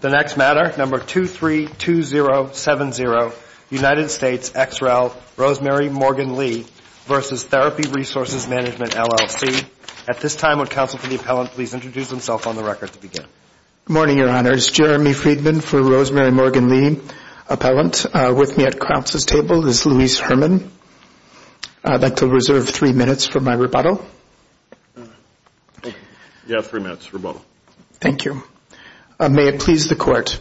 The next matter, number 232070, United States ex rel. Rosemary Morgan-Lee v. Therapy Resources Management, LLC. At this time, would counsel for the appellant please introduce himself on the record to begin? Good morning, Your Honors. Jeremy Friedman for Rosemary Morgan-Lee Appellant. With me at counsel's table is Louise Herman. I'd like to reserve three minutes for my rebuttal. You have three minutes for rebuttal. Thank you. May it please the Court.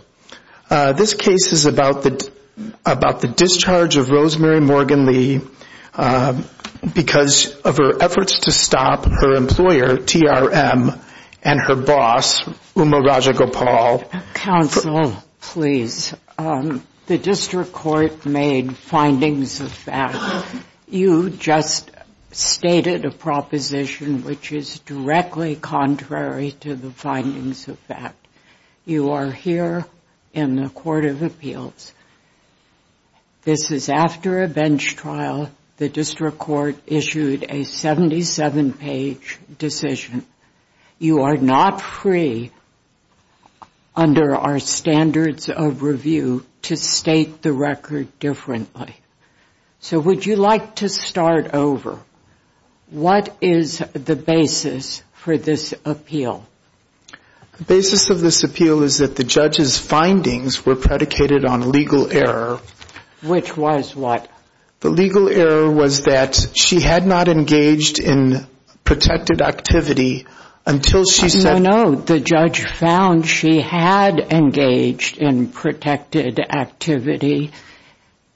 This case is about the discharge of Rosemary Morgan-Lee because of her efforts to stop her employer, TRM, and her boss, Uma Raja Gopal. Counsel, please. The district court made findings of that. You just stated a proposition which is directly contrary to the findings of that. You are here in the Court of Appeals. This is after a bench trial. The district court issued a 77-page decision. You are not free under our standards of review to state the record differently. So would you like to start over? What is the basis for this appeal? The basis of this appeal is that the judge's findings were predicated on legal error. Which was what? The legal error was that she had not engaged in protected activity until she said— No, no, no. The judge found she had engaged in protected activity.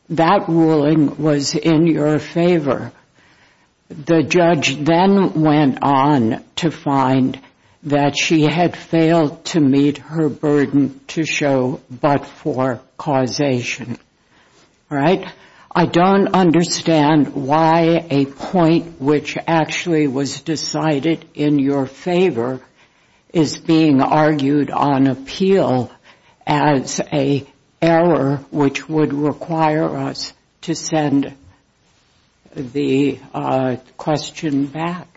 That ruling was in your favor. The judge then went on to find that she had failed to meet her burden to show but for causation. I don't understand why a point which actually was decided in your favor is being argued on appeal as a error which would require us to send the question back.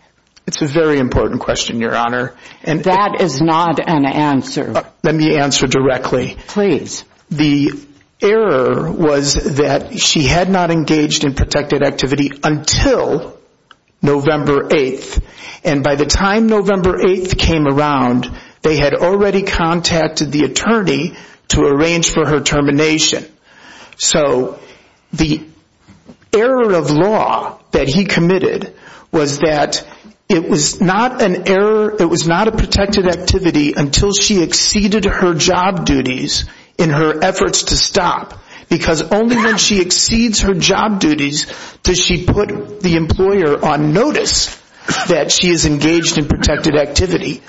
It's a very important question, Your Honor. That is not an answer. Let me answer directly. Please. The error was that she had not engaged in protected activity until November 8th. And by the time November 8th came around, they had already contacted the attorney to arrange for her termination. So the error of law that he committed was that it was not an error, it was not a protected activity until she exceeded her job duties in her efforts to stop. Because only when she exceeds her job duties does she put the employer on notice that she is engaged in protected activity.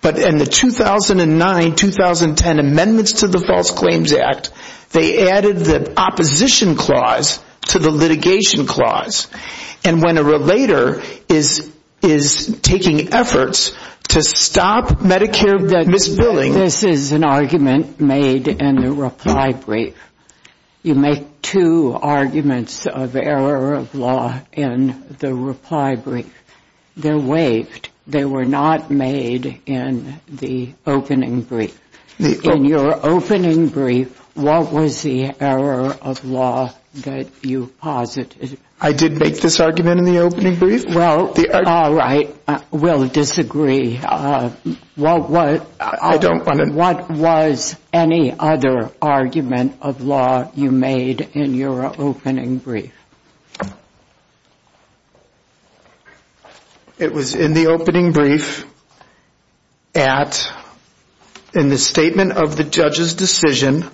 But in the 2009-2010 amendments to the False Claims Act, they added the opposition clause to the litigation clause. And when a relator is taking efforts to stop Medicare misbilling— This is an argument made in the reply brief. You make two arguments of error of law in the reply brief. They're waived. They were not made in the opening brief. In your opening brief, what was the error of law that you posited? I did make this argument in the opening brief. All right. We'll disagree. I don't want to— What was any other argument of law you made in your opening brief? It was in the opening brief at, in the statement of the judge's decision,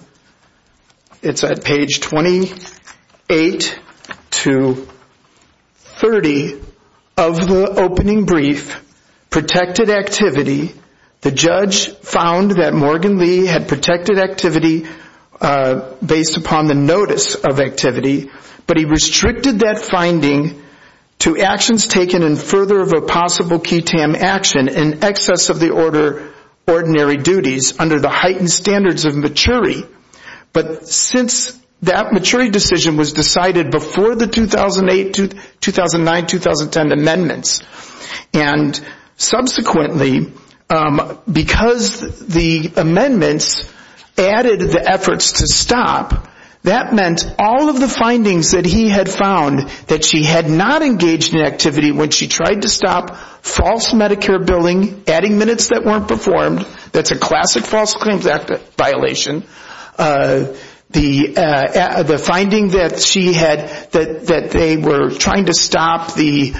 it's at page 28 to 30 of the opening brief, protected activity. The judge found that Morgan Lee had protected activity based upon the notice of activity. But he restricted that finding to actions taken in further of a possible QTAM action in excess of the order ordinary duties under the heightened standards of maturity. But since that maturity decision was decided before the 2008, 2009, 2010 amendments, and subsequently because the amendments added the efforts to stop, that meant all of the findings that he had found that she had not engaged in activity when she tried to stop false Medicare billing, adding minutes that weren't performed. That's a classic false claims violation. The finding that she had that they were trying to stop the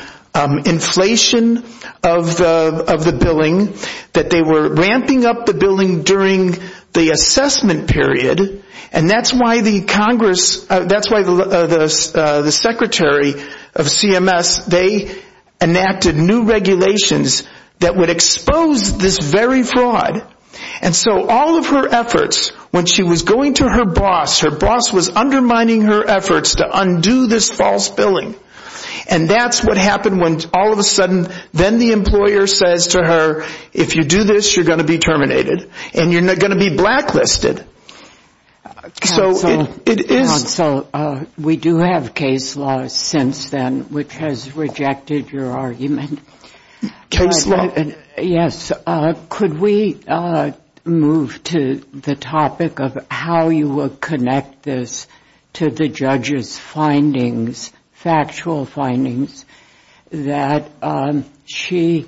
inflation of the billing, that they were ramping up the billing during the assessment period, and that's why the Congress, that's why the secretary of CMS, they enacted new regulations that would expose this very fraud. And so all of her efforts, when she was going to her boss, her boss was undermining her efforts to undo this false billing. And that's what happened when all of a sudden, then the employer says to her, if you do this, you're going to be terminated, and you're going to be blacklisted. So it is. Counsel, we do have case law since then, which has rejected your argument. Case law. Yes. Could we move to the topic of how you would connect this to the judge's findings, factual findings, that she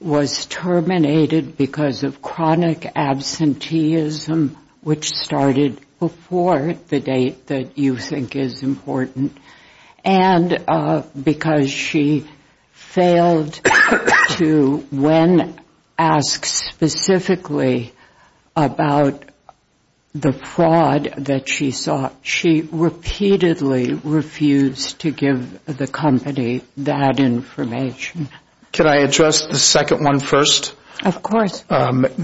was terminated because of chronic absenteeism, which started before the date that you think is important, and because she failed to, when asked specifically about the fraud that she saw, she repeatedly refused to give the company that information. Can I address the second one first? Of course. The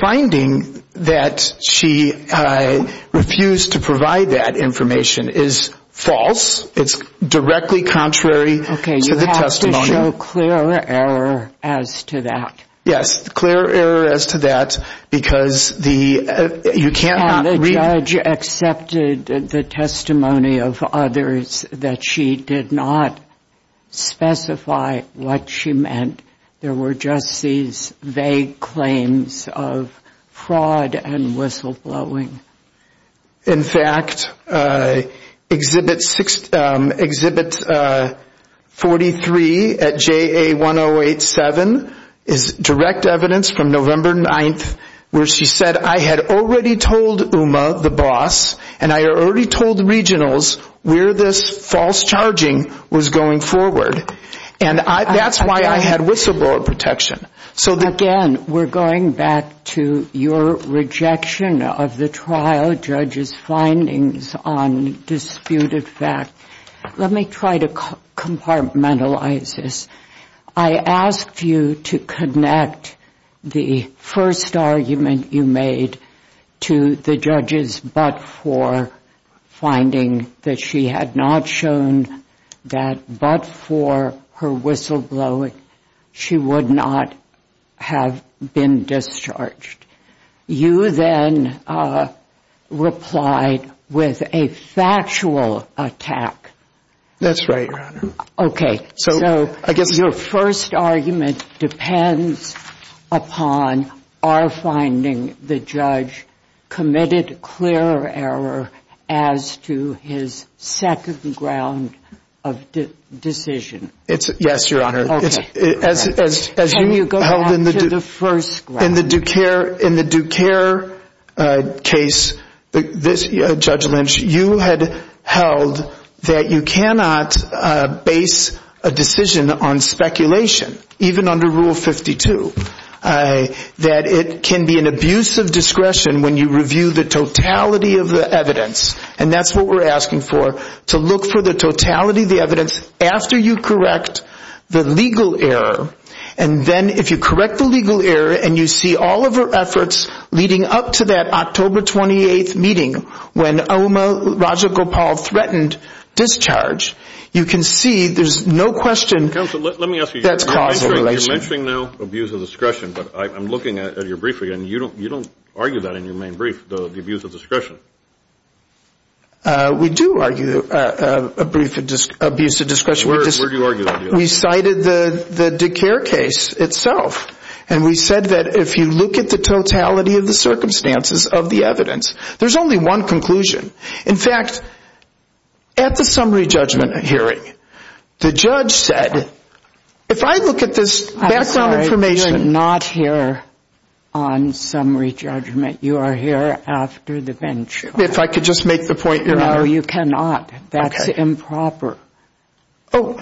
finding that she refused to provide that information is false. It's directly contrary to the testimony. You have to show clear error as to that. Yes. You have to show clear error as to that because you can't not read. And the judge accepted the testimony of others that she did not specify what she meant. There were just these vague claims of fraud and whistleblowing. In fact, Exhibit 43 at JA1087 is direct evidence from November 9th where she said, I had already told UMA, the boss, and I had already told regionals where this false charging was going forward. And that's why I had whistleblower protection. Again, we're going back to your rejection of the trial judge's findings on disputed facts. Let me try to compartmentalize this. I asked you to connect the first argument you made to the judge's but-for finding that she had not shown that but-for her whistleblowing she would not have been discharged. You then replied with a factual attack. That's right, Your Honor. Okay. So your first argument depends upon our finding the judge committed clear error as to his second ground of decision. Yes, Your Honor. As you go on to the first ground. In the Duquerre case, Judge Lynch, you had held that you cannot base a decision on speculation, even under Rule 52, that it can be an abuse of discretion when you review the totality of the evidence. And that's what we're asking for, to look for the totality of the evidence after you correct the legal error. And then if you correct the legal error and you see all of her efforts leading up to that October 28th meeting when Oma Rajagopal threatened discharge, you can see there's no question that's causal relation. Counsel, let me ask you. You're mentioning now abuse of discretion, but I'm looking at your briefing and you don't argue that in your main brief, the abuse of discretion. We do argue a brief abuse of discretion. Where do you argue that? We cited the Duquerre case itself, and we said that if you look at the totality of the circumstances of the evidence, there's only one conclusion. In fact, at the summary judgment hearing, the judge said, if I look at this background information. I'm sorry, you're not here on summary judgment. You are here after the bench. If I could just make the point, Your Honor. No, you cannot. That's improper. I'm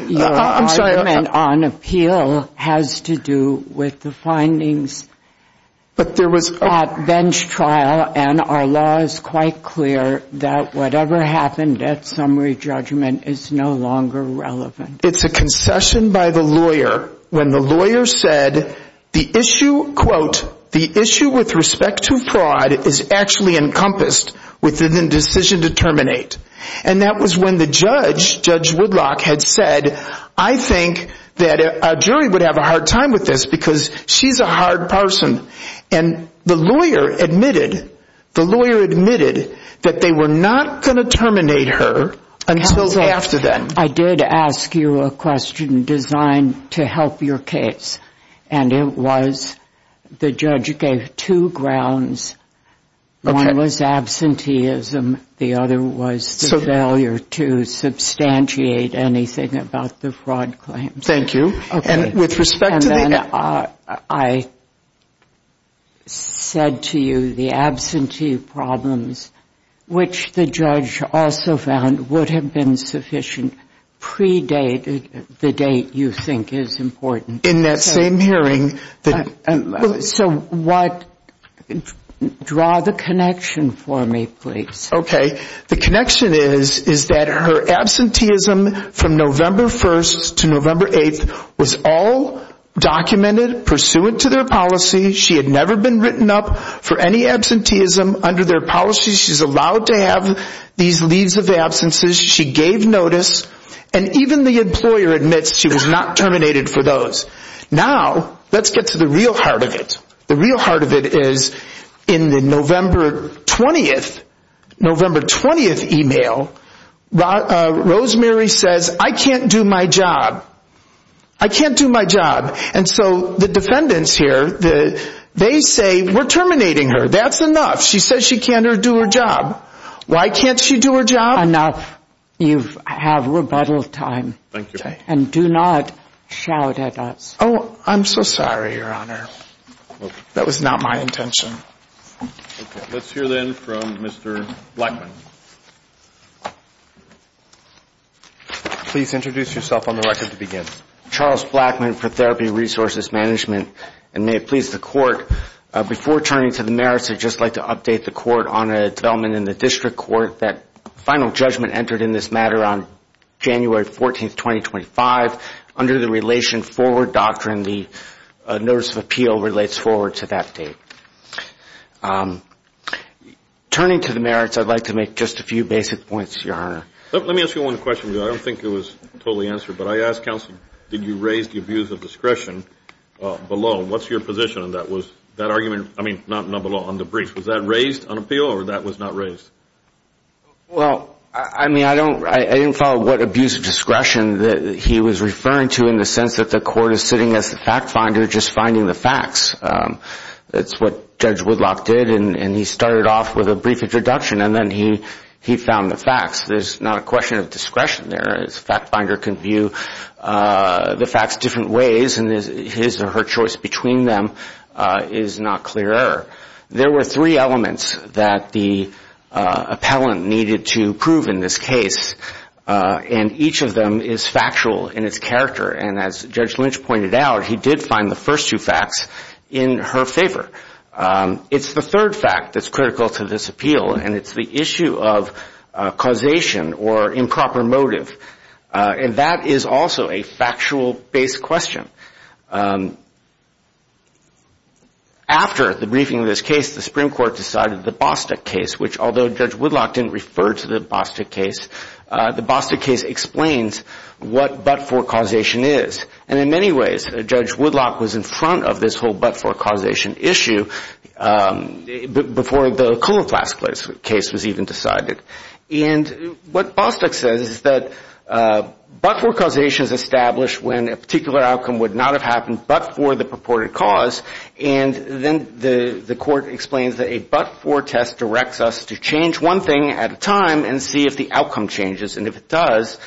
sorry. Your argument on appeal has to do with the findings at bench trial, and our law is quite clear that whatever happened at summary judgment is no longer relevant. It's a concession by the lawyer when the lawyer said the issue, quote, the issue with respect to fraud is actually encompassed within the decision to terminate. And that was when the judge, Judge Woodlock, had said, I think that a jury would have a hard time with this because she's a hard person. And the lawyer admitted, the lawyer admitted that they were not going to terminate her until after that. I did ask you a question designed to help your case, and it was the judge gave two grounds. One was absenteeism. The other was the failure to substantiate anything about the fraud claims. Thank you. And with respect to the ‑‑ And then I said to you the absentee problems, which the judge also found would have been sufficient, predated the date you think is important. In that same hearing. So what ‑‑ draw the connection for me, please. Okay. The connection is that her absenteeism from November 1st to November 8th was all documented, pursuant to their policy. She had never been written up for any absenteeism. Under their policy, she's allowed to have these leaves of absences. She gave notice. And even the employer admits she was not terminated for those. Now, let's get to the real heart of it. The real heart of it is in the November 20th e‑mail, Rosemary says, I can't do my job. I can't do my job. And so the defendants here, they say we're terminating her. That's enough. She says she can't do her job. Why can't she do her job? Enough. You have rebuttal time. Thank you. Okay. And do not shout at us. Oh, I'm so sorry, Your Honor. That was not my intention. Okay. Let's hear, then, from Mr. Blackman. Please introduce yourself on the record to begin. Charles Blackman for Therapy Resources Management. And may it please the Court, before turning to the merits, I'd just like to update the Court on a development in the District Court that final judgment entered in this matter on January 14th, 2025. Under the relation forward doctrine, the notice of appeal relates forward to that date. Turning to the merits, I'd like to make just a few basic points, Your Honor. Let me ask you one question. I don't think it was totally answered, but I asked counsel, did you raise the abuse of discretion below? What's your position on that? I mean, not below, on the brief. Was that raised on appeal, or that was not raised? Well, I mean, I didn't follow what abuse of discretion that he was referring to in the sense that the Court is sitting as the fact finder just finding the facts. That's what Judge Woodlock did, and he started off with a brief introduction, and then he found the facts. There's not a question of discretion there. A fact finder can view the facts different ways, and his or her choice between them is not clear. There were three elements that the appellant needed to prove in this case, and each of them is factual in its character. And as Judge Lynch pointed out, he did find the first two facts in her favor. It's the third fact that's critical to this appeal, and it's the issue of causation or improper motive. And that is also a factual-based question. After the briefing of this case, the Supreme Court decided the Bostock case, which although Judge Woodlock didn't refer to the Bostock case, the Bostock case explains what but-for causation is. And in many ways, Judge Woodlock was in front of this whole but-for causation issue before the Koloplast case was even decided. And what Bostock says is that but-for causation is established when a particular outcome would not have happened but for the purported cause, and then the court explains that a but-for test directs us to change one thing at a time and see if the outcome changes, and if it does,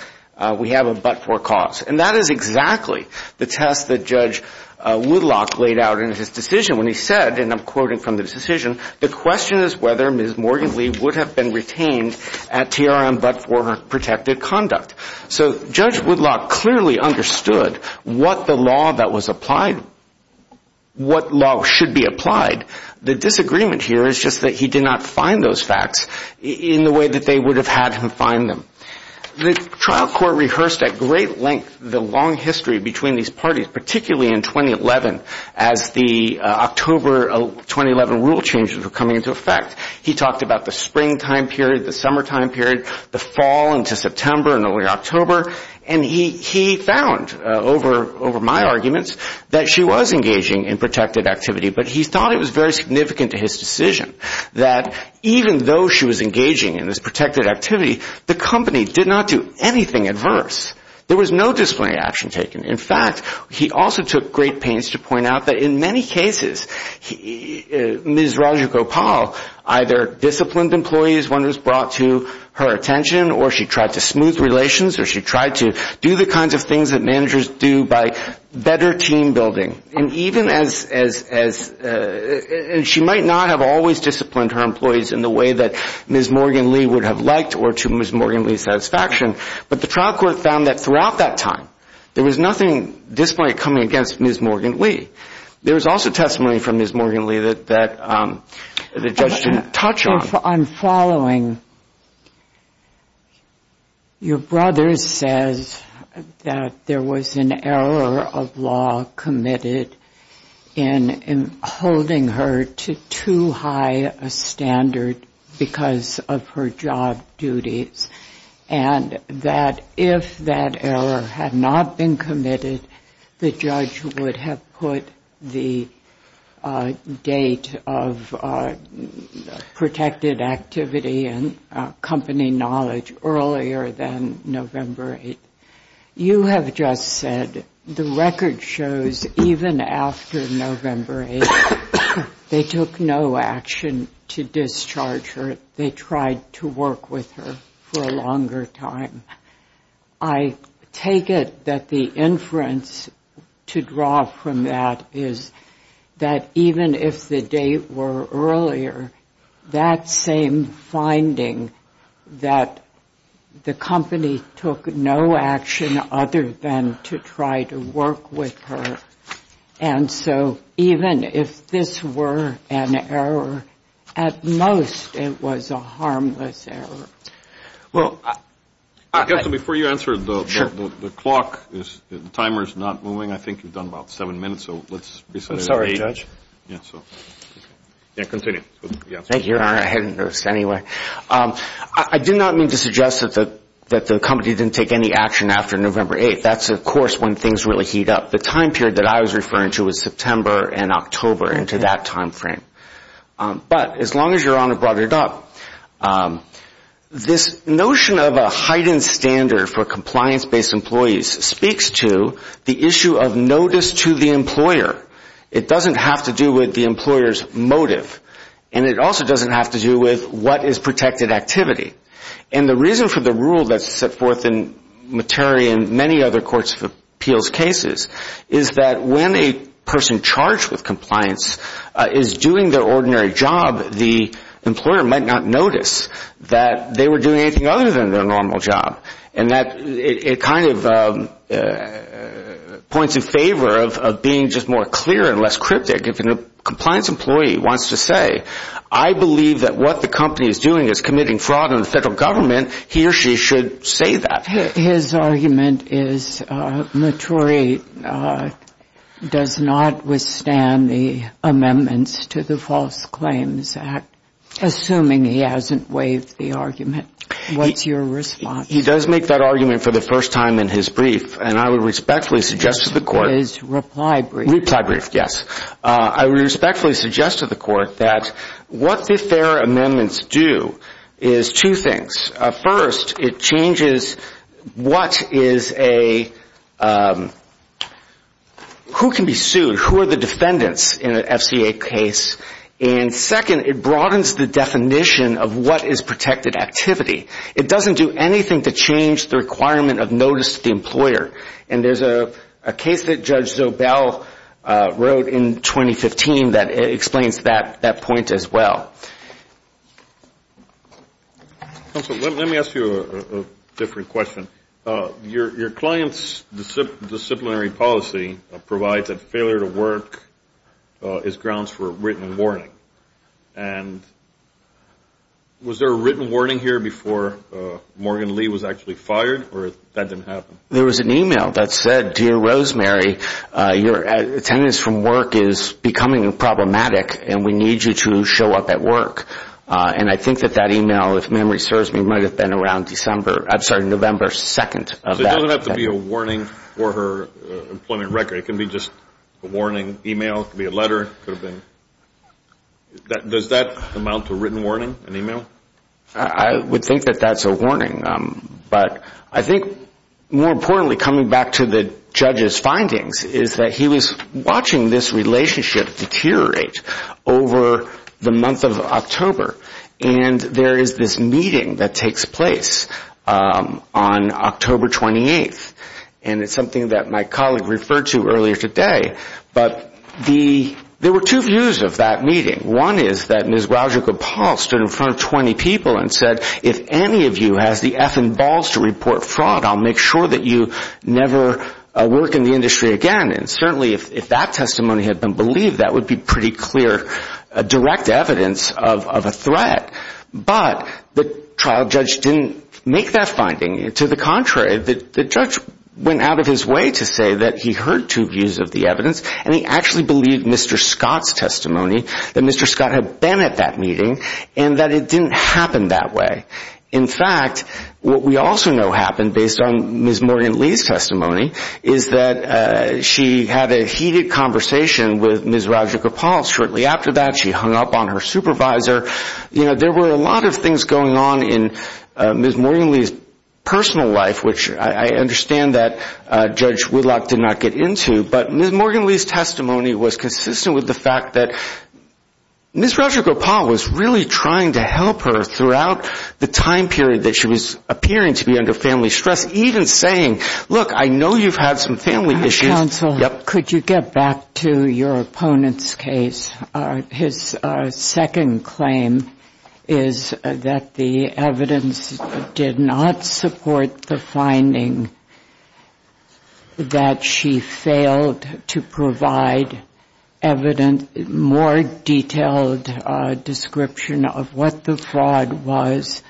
we have a but-for cause. And that is exactly the test that Judge Woodlock laid out in his decision when he said, and I'm quoting from this decision, the question is whether Ms. Morgan Lee would have been retained at TRM but for her protected conduct. So Judge Woodlock clearly understood what the law that was applied, what law should be applied. The disagreement here is just that he did not find those facts in the way that they would have had him find them. The trial court rehearsed at great length the long history between these parties, particularly in 2011 as the October 2011 rule changes were coming into effect. He talked about the springtime period, the summertime period, the fall into September and early October, and he found over my arguments that she was engaging in protected activity, but he thought it was very significant to his decision that even though she was engaging in this protected activity, the company did not do anything adverse. There was no disciplinary action taken. In fact, he also took great pains to point out that in many cases, Ms. Rajagopal either disciplined employees when it was brought to her attention or she tried to smooth relations or she tried to do the kinds of things that managers do by better team building. And even as, and she might not have always disciplined her employees in the way that Ms. Morgan Lee would have liked or to Ms. Morgan Lee's satisfaction, but the trial court found that throughout that time, there was nothing disciplinary coming against Ms. Morgan Lee. There was also testimony from Ms. Morgan Lee that the judge didn't touch on. If I'm following, your brother says that there was an error of law committed in holding her to too high a standard because of her job duties and that if that error had not been committed, the judge would have put the date of protected activity and company knowledge earlier than November 8th. You have just said the record shows even after November 8th, they took no action to discharge her. They tried to work with her for a longer time. I take it that the inference to draw from that is that even if the date were earlier, that same finding that the company took no action other than to try to work with her and so even if this were an error, at most, it was a harmless error. Well, counsel, before you answer, the clock, the timer is not moving. I think you've done about seven minutes. I'm sorry, Judge. Continue. Thank you, Your Honor. I hadn't noticed anyway. I do not mean to suggest that the company didn't take any action after November 8th. That's, of course, when things really heat up. The time period that I was referring to was September and October into that time frame. But as long as Your Honor brought it up, this notion of a heightened standard for compliance-based employees speaks to the issue of notice to the employer. It doesn't have to do with the employer's motive, and it also doesn't have to do with what is protected activity. And the reason for the rule that's set forth in Materi and many other courts of appeals cases is that when a person charged with compliance is doing their ordinary job, the employer might not notice that they were doing anything other than their normal job. And it kind of points in favor of being just more clear and less cryptic. If a compliance employee wants to say, I believe that what the company is doing is committing fraud on the federal government, he or she should say that. His argument is Materi does not withstand the amendments to the False Claims Act, assuming he hasn't waived the argument. What's your response? He does make that argument for the first time in his brief, and I would respectfully suggest to the Court His reply brief. Reply brief, yes. I would respectfully suggest to the Court that what the fair amendments do is two things. First, it changes who can be sued, who are the defendants in an FCA case. And second, it broadens the definition of what is protected activity. It doesn't do anything to change the requirement of notice to the employer. And there's a case that Judge Zobel wrote in 2015 that explains that point as well. Counsel, let me ask you a different question. Your client's disciplinary policy provides that failure to work is grounds for written warning. And was there a written warning here before Morgan Lee was actually fired, or that didn't happen? There was an email that said, Dear Rosemary, your attendance from work is becoming problematic, and we need you to show up at work. And I think that that email, if memory serves me, might have been around November 2nd. So it doesn't have to be a warning for her employment record. It can be just a warning email. It could be a letter. Does that amount to a written warning, an email? I would think that that's a warning. But I think more importantly, coming back to the judge's findings, is that he was watching this relationship deteriorate over the month of October. And there is this meeting that takes place on October 28th, and it's something that my colleague referred to earlier today. But there were two views of that meeting. One is that Ms. Roger Gopal stood in front of 20 people and said, If any of you has the effing balls to report fraud, I'll make sure that you never work in the industry again. And certainly if that testimony had been believed, that would be pretty clear direct evidence of a threat. But the trial judge didn't make that finding. To the contrary, the judge went out of his way to say that he heard two views of the evidence, and he actually believed Mr. Scott's testimony, that Mr. Scott had been at that meeting, and that it didn't happen that way. In fact, what we also know happened, based on Ms. Morgan Lee's testimony, is that she had a heated conversation with Ms. Roger Gopal shortly after that. She hung up on her supervisor. There were a lot of things going on in Ms. Morgan Lee's personal life, which I understand that Judge Whitlock did not get into. But Ms. Morgan Lee's testimony was consistent with the fact that Ms. Roger Gopal was really trying to help her throughout the time period that she was appearing to be under family stress, even saying, Look, I know you've had some family issues. Counsel, could you get back to your opponent's case? His second claim is that the evidence did not support the finding that she failed to provide more detailed description of what the fraud was,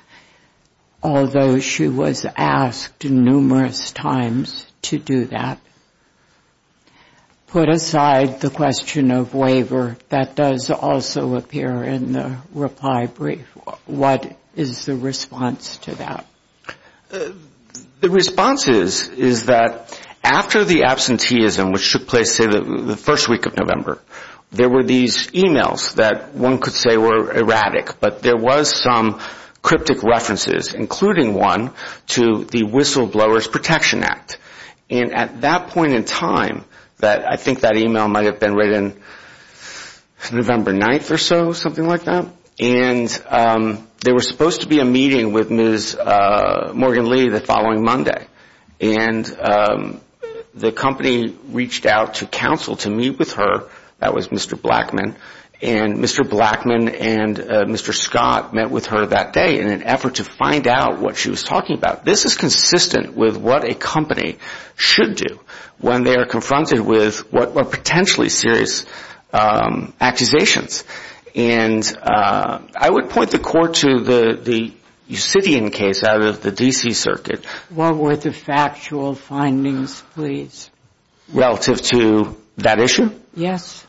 although she was asked numerous times to do that. Put aside the question of waiver, that does also appear in the reply brief. What is the response to that? The response is that after the absenteeism, which took place, say, the first week of November, there were these e-mails that one could say were erratic, but there was some cryptic references, including one to the Whistleblowers Protection Act. At that point in time, I think that e-mail might have been written November 9th or so, something like that. There was supposed to be a meeting with Ms. Morgan Lee the following Monday. The company reached out to counsel to meet with her. That was Mr. Blackman. Mr. Blackman and Mr. Scott met with her that day in an effort to find out what she was talking about. This is consistent with what a company should do when they are confronted with what are potentially serious accusations. And I would point the court to the Yusidian case out of the D.C. Circuit. What were the factual findings, please? Relative to that issue? Yes.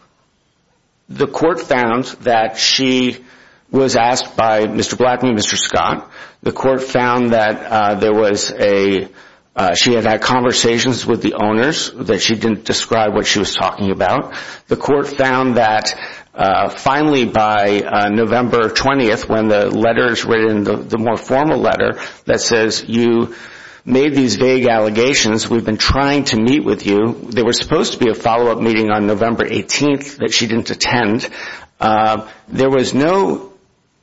The court found that she was asked by Mr. Blackman and Mr. Scott. The court found that she had had conversations with the owners, that she didn't describe what she was talking about. The court found that finally by November 20th, when the letters were in the more formal letter that says you made these vague allegations, we've been trying to meet with you. There was supposed to be a follow-up meeting on November 18th that she didn't attend. There was no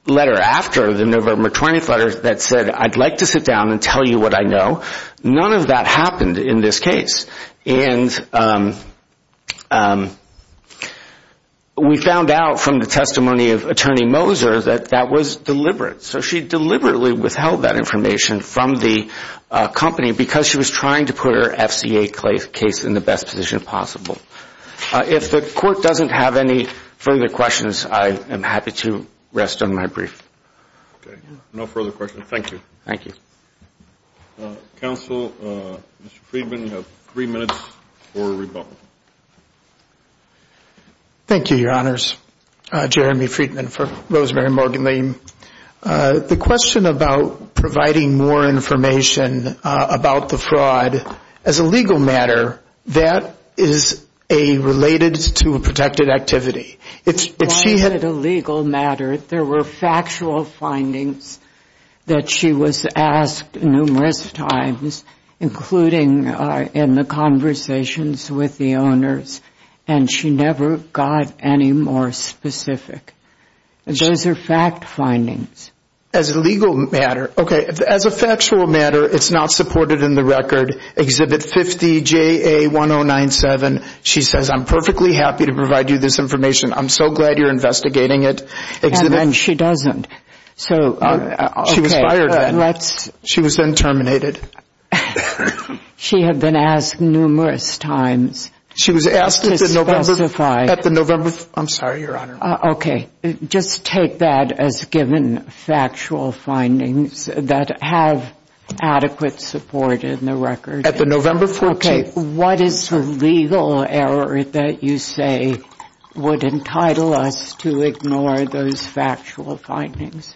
letter after the November 20th letter that said I'd like to sit down and tell you what I know. None of that happened in this case. And we found out from the testimony of Attorney Moser that that was deliberate. So she deliberately withheld that information from the company because she was trying to put her FCA case in the best position possible. If the court doesn't have any further questions, I am happy to rest on my brief. Okay. No further questions. Thank you. Thank you. Counsel, Mr. Friedman, you have three minutes for rebuttal. Thank you, Your Honors. Jeremy Friedman for Rosemary Morgan Lee. The question about providing more information about the fraud as a legal matter, that is related to a protected activity. It's not a legal matter. There were factual findings that she was asked numerous times, including in the conversations with the owners, and she never got any more specific. Those are fact findings. As a legal matter. Okay. As a factual matter, it's not supported in the record. Exhibit 50JA1097. She says, I'm perfectly happy to provide you this information. I'm so glad you're investigating it. And then she doesn't. She was fired then. She was then terminated. She had been asked numerous times to specify. I'm sorry, Your Honor. Okay. Just take that as given factual findings that have adequate support in the record. At the November 14th. Okay. What is the legal error that you say would entitle us to ignore those factual findings?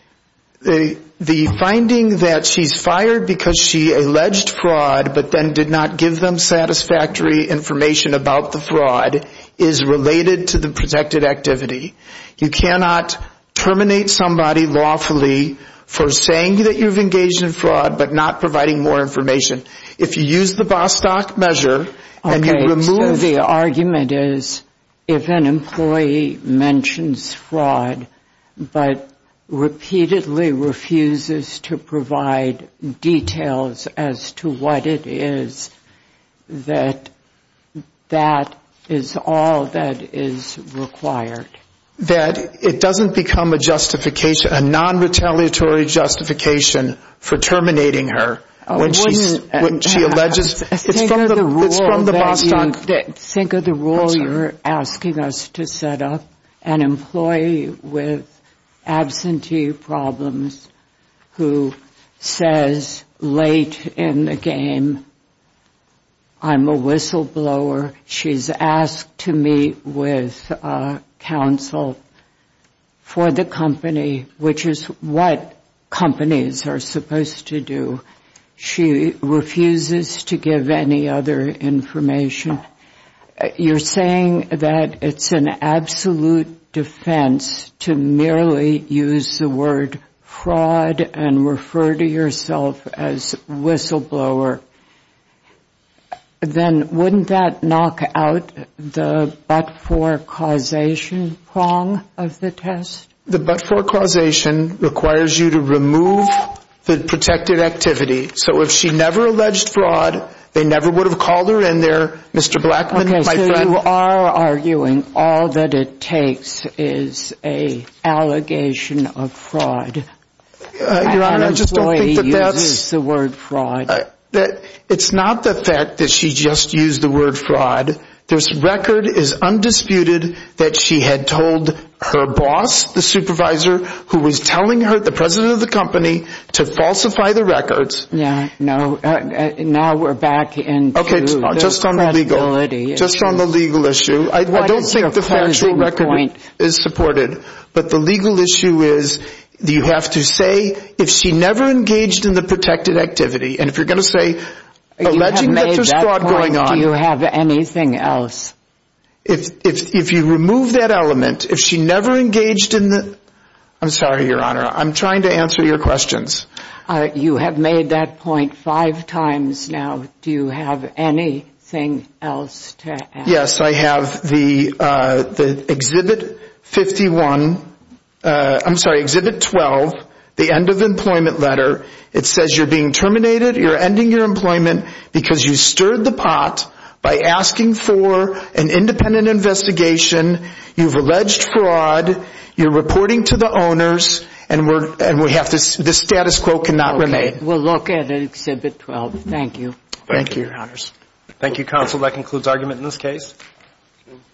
The finding that she's fired because she alleged fraud but then did not give them satisfactory information about the fraud is related to the protected activity. You cannot terminate somebody lawfully for saying that you've engaged in fraud but not providing more information. If you use the Bostock measure and you remove the argument is if an employee mentions fraud but repeatedly refuses to provide details as to what it is, that that is all that is required. That it doesn't become a justification, a non-retaliatory justification for terminating her when she alleges. It's from the Bostock measure. Think of the rule you're asking us to set up. An employee with absentee problems who says late in the game, I'm a whistleblower. She's asked to meet with counsel for the company, which is what companies are supposed to do. She refuses to give any other information. You're saying that it's an absolute defense to merely use the word fraud and refer to yourself as whistleblower. Then wouldn't that knock out the but-for causation prong of the test? The but-for causation requires you to remove the protected activity. So if she never alleged fraud, they never would have called her in there, Mr. Blackman, my friend. Okay, so you are arguing all that it takes is an allegation of fraud. Your Honor, I just don't think that that's... An employee uses the word fraud. It's not the fact that she just used the word fraud. This record is undisputed that she had told her boss, the supervisor, who was telling her, the president of the company, to falsify the records. Now we're back into the credibility. Just on the legal issue. I don't think the factual record is supported. But the legal issue is you have to say if she never engaged in the protected activity. And if you're going to say alleging that there's fraud going on... Anything else? If you remove that element, if she never engaged in the... I'm sorry, Your Honor. I'm trying to answer your questions. You have made that point five times now. Do you have anything else to add? Yes, I have the Exhibit 51... I'm sorry, Exhibit 12, the end of employment letter. It says you're being terminated. You're ending your employment because you stirred the pot by asking for an independent investigation. You've alleged fraud. You're reporting to the owners. And this status quo cannot remain. We'll look at Exhibit 12. Thank you. Thank you, Your Honors. Thank you, Counsel. That concludes argument in this case.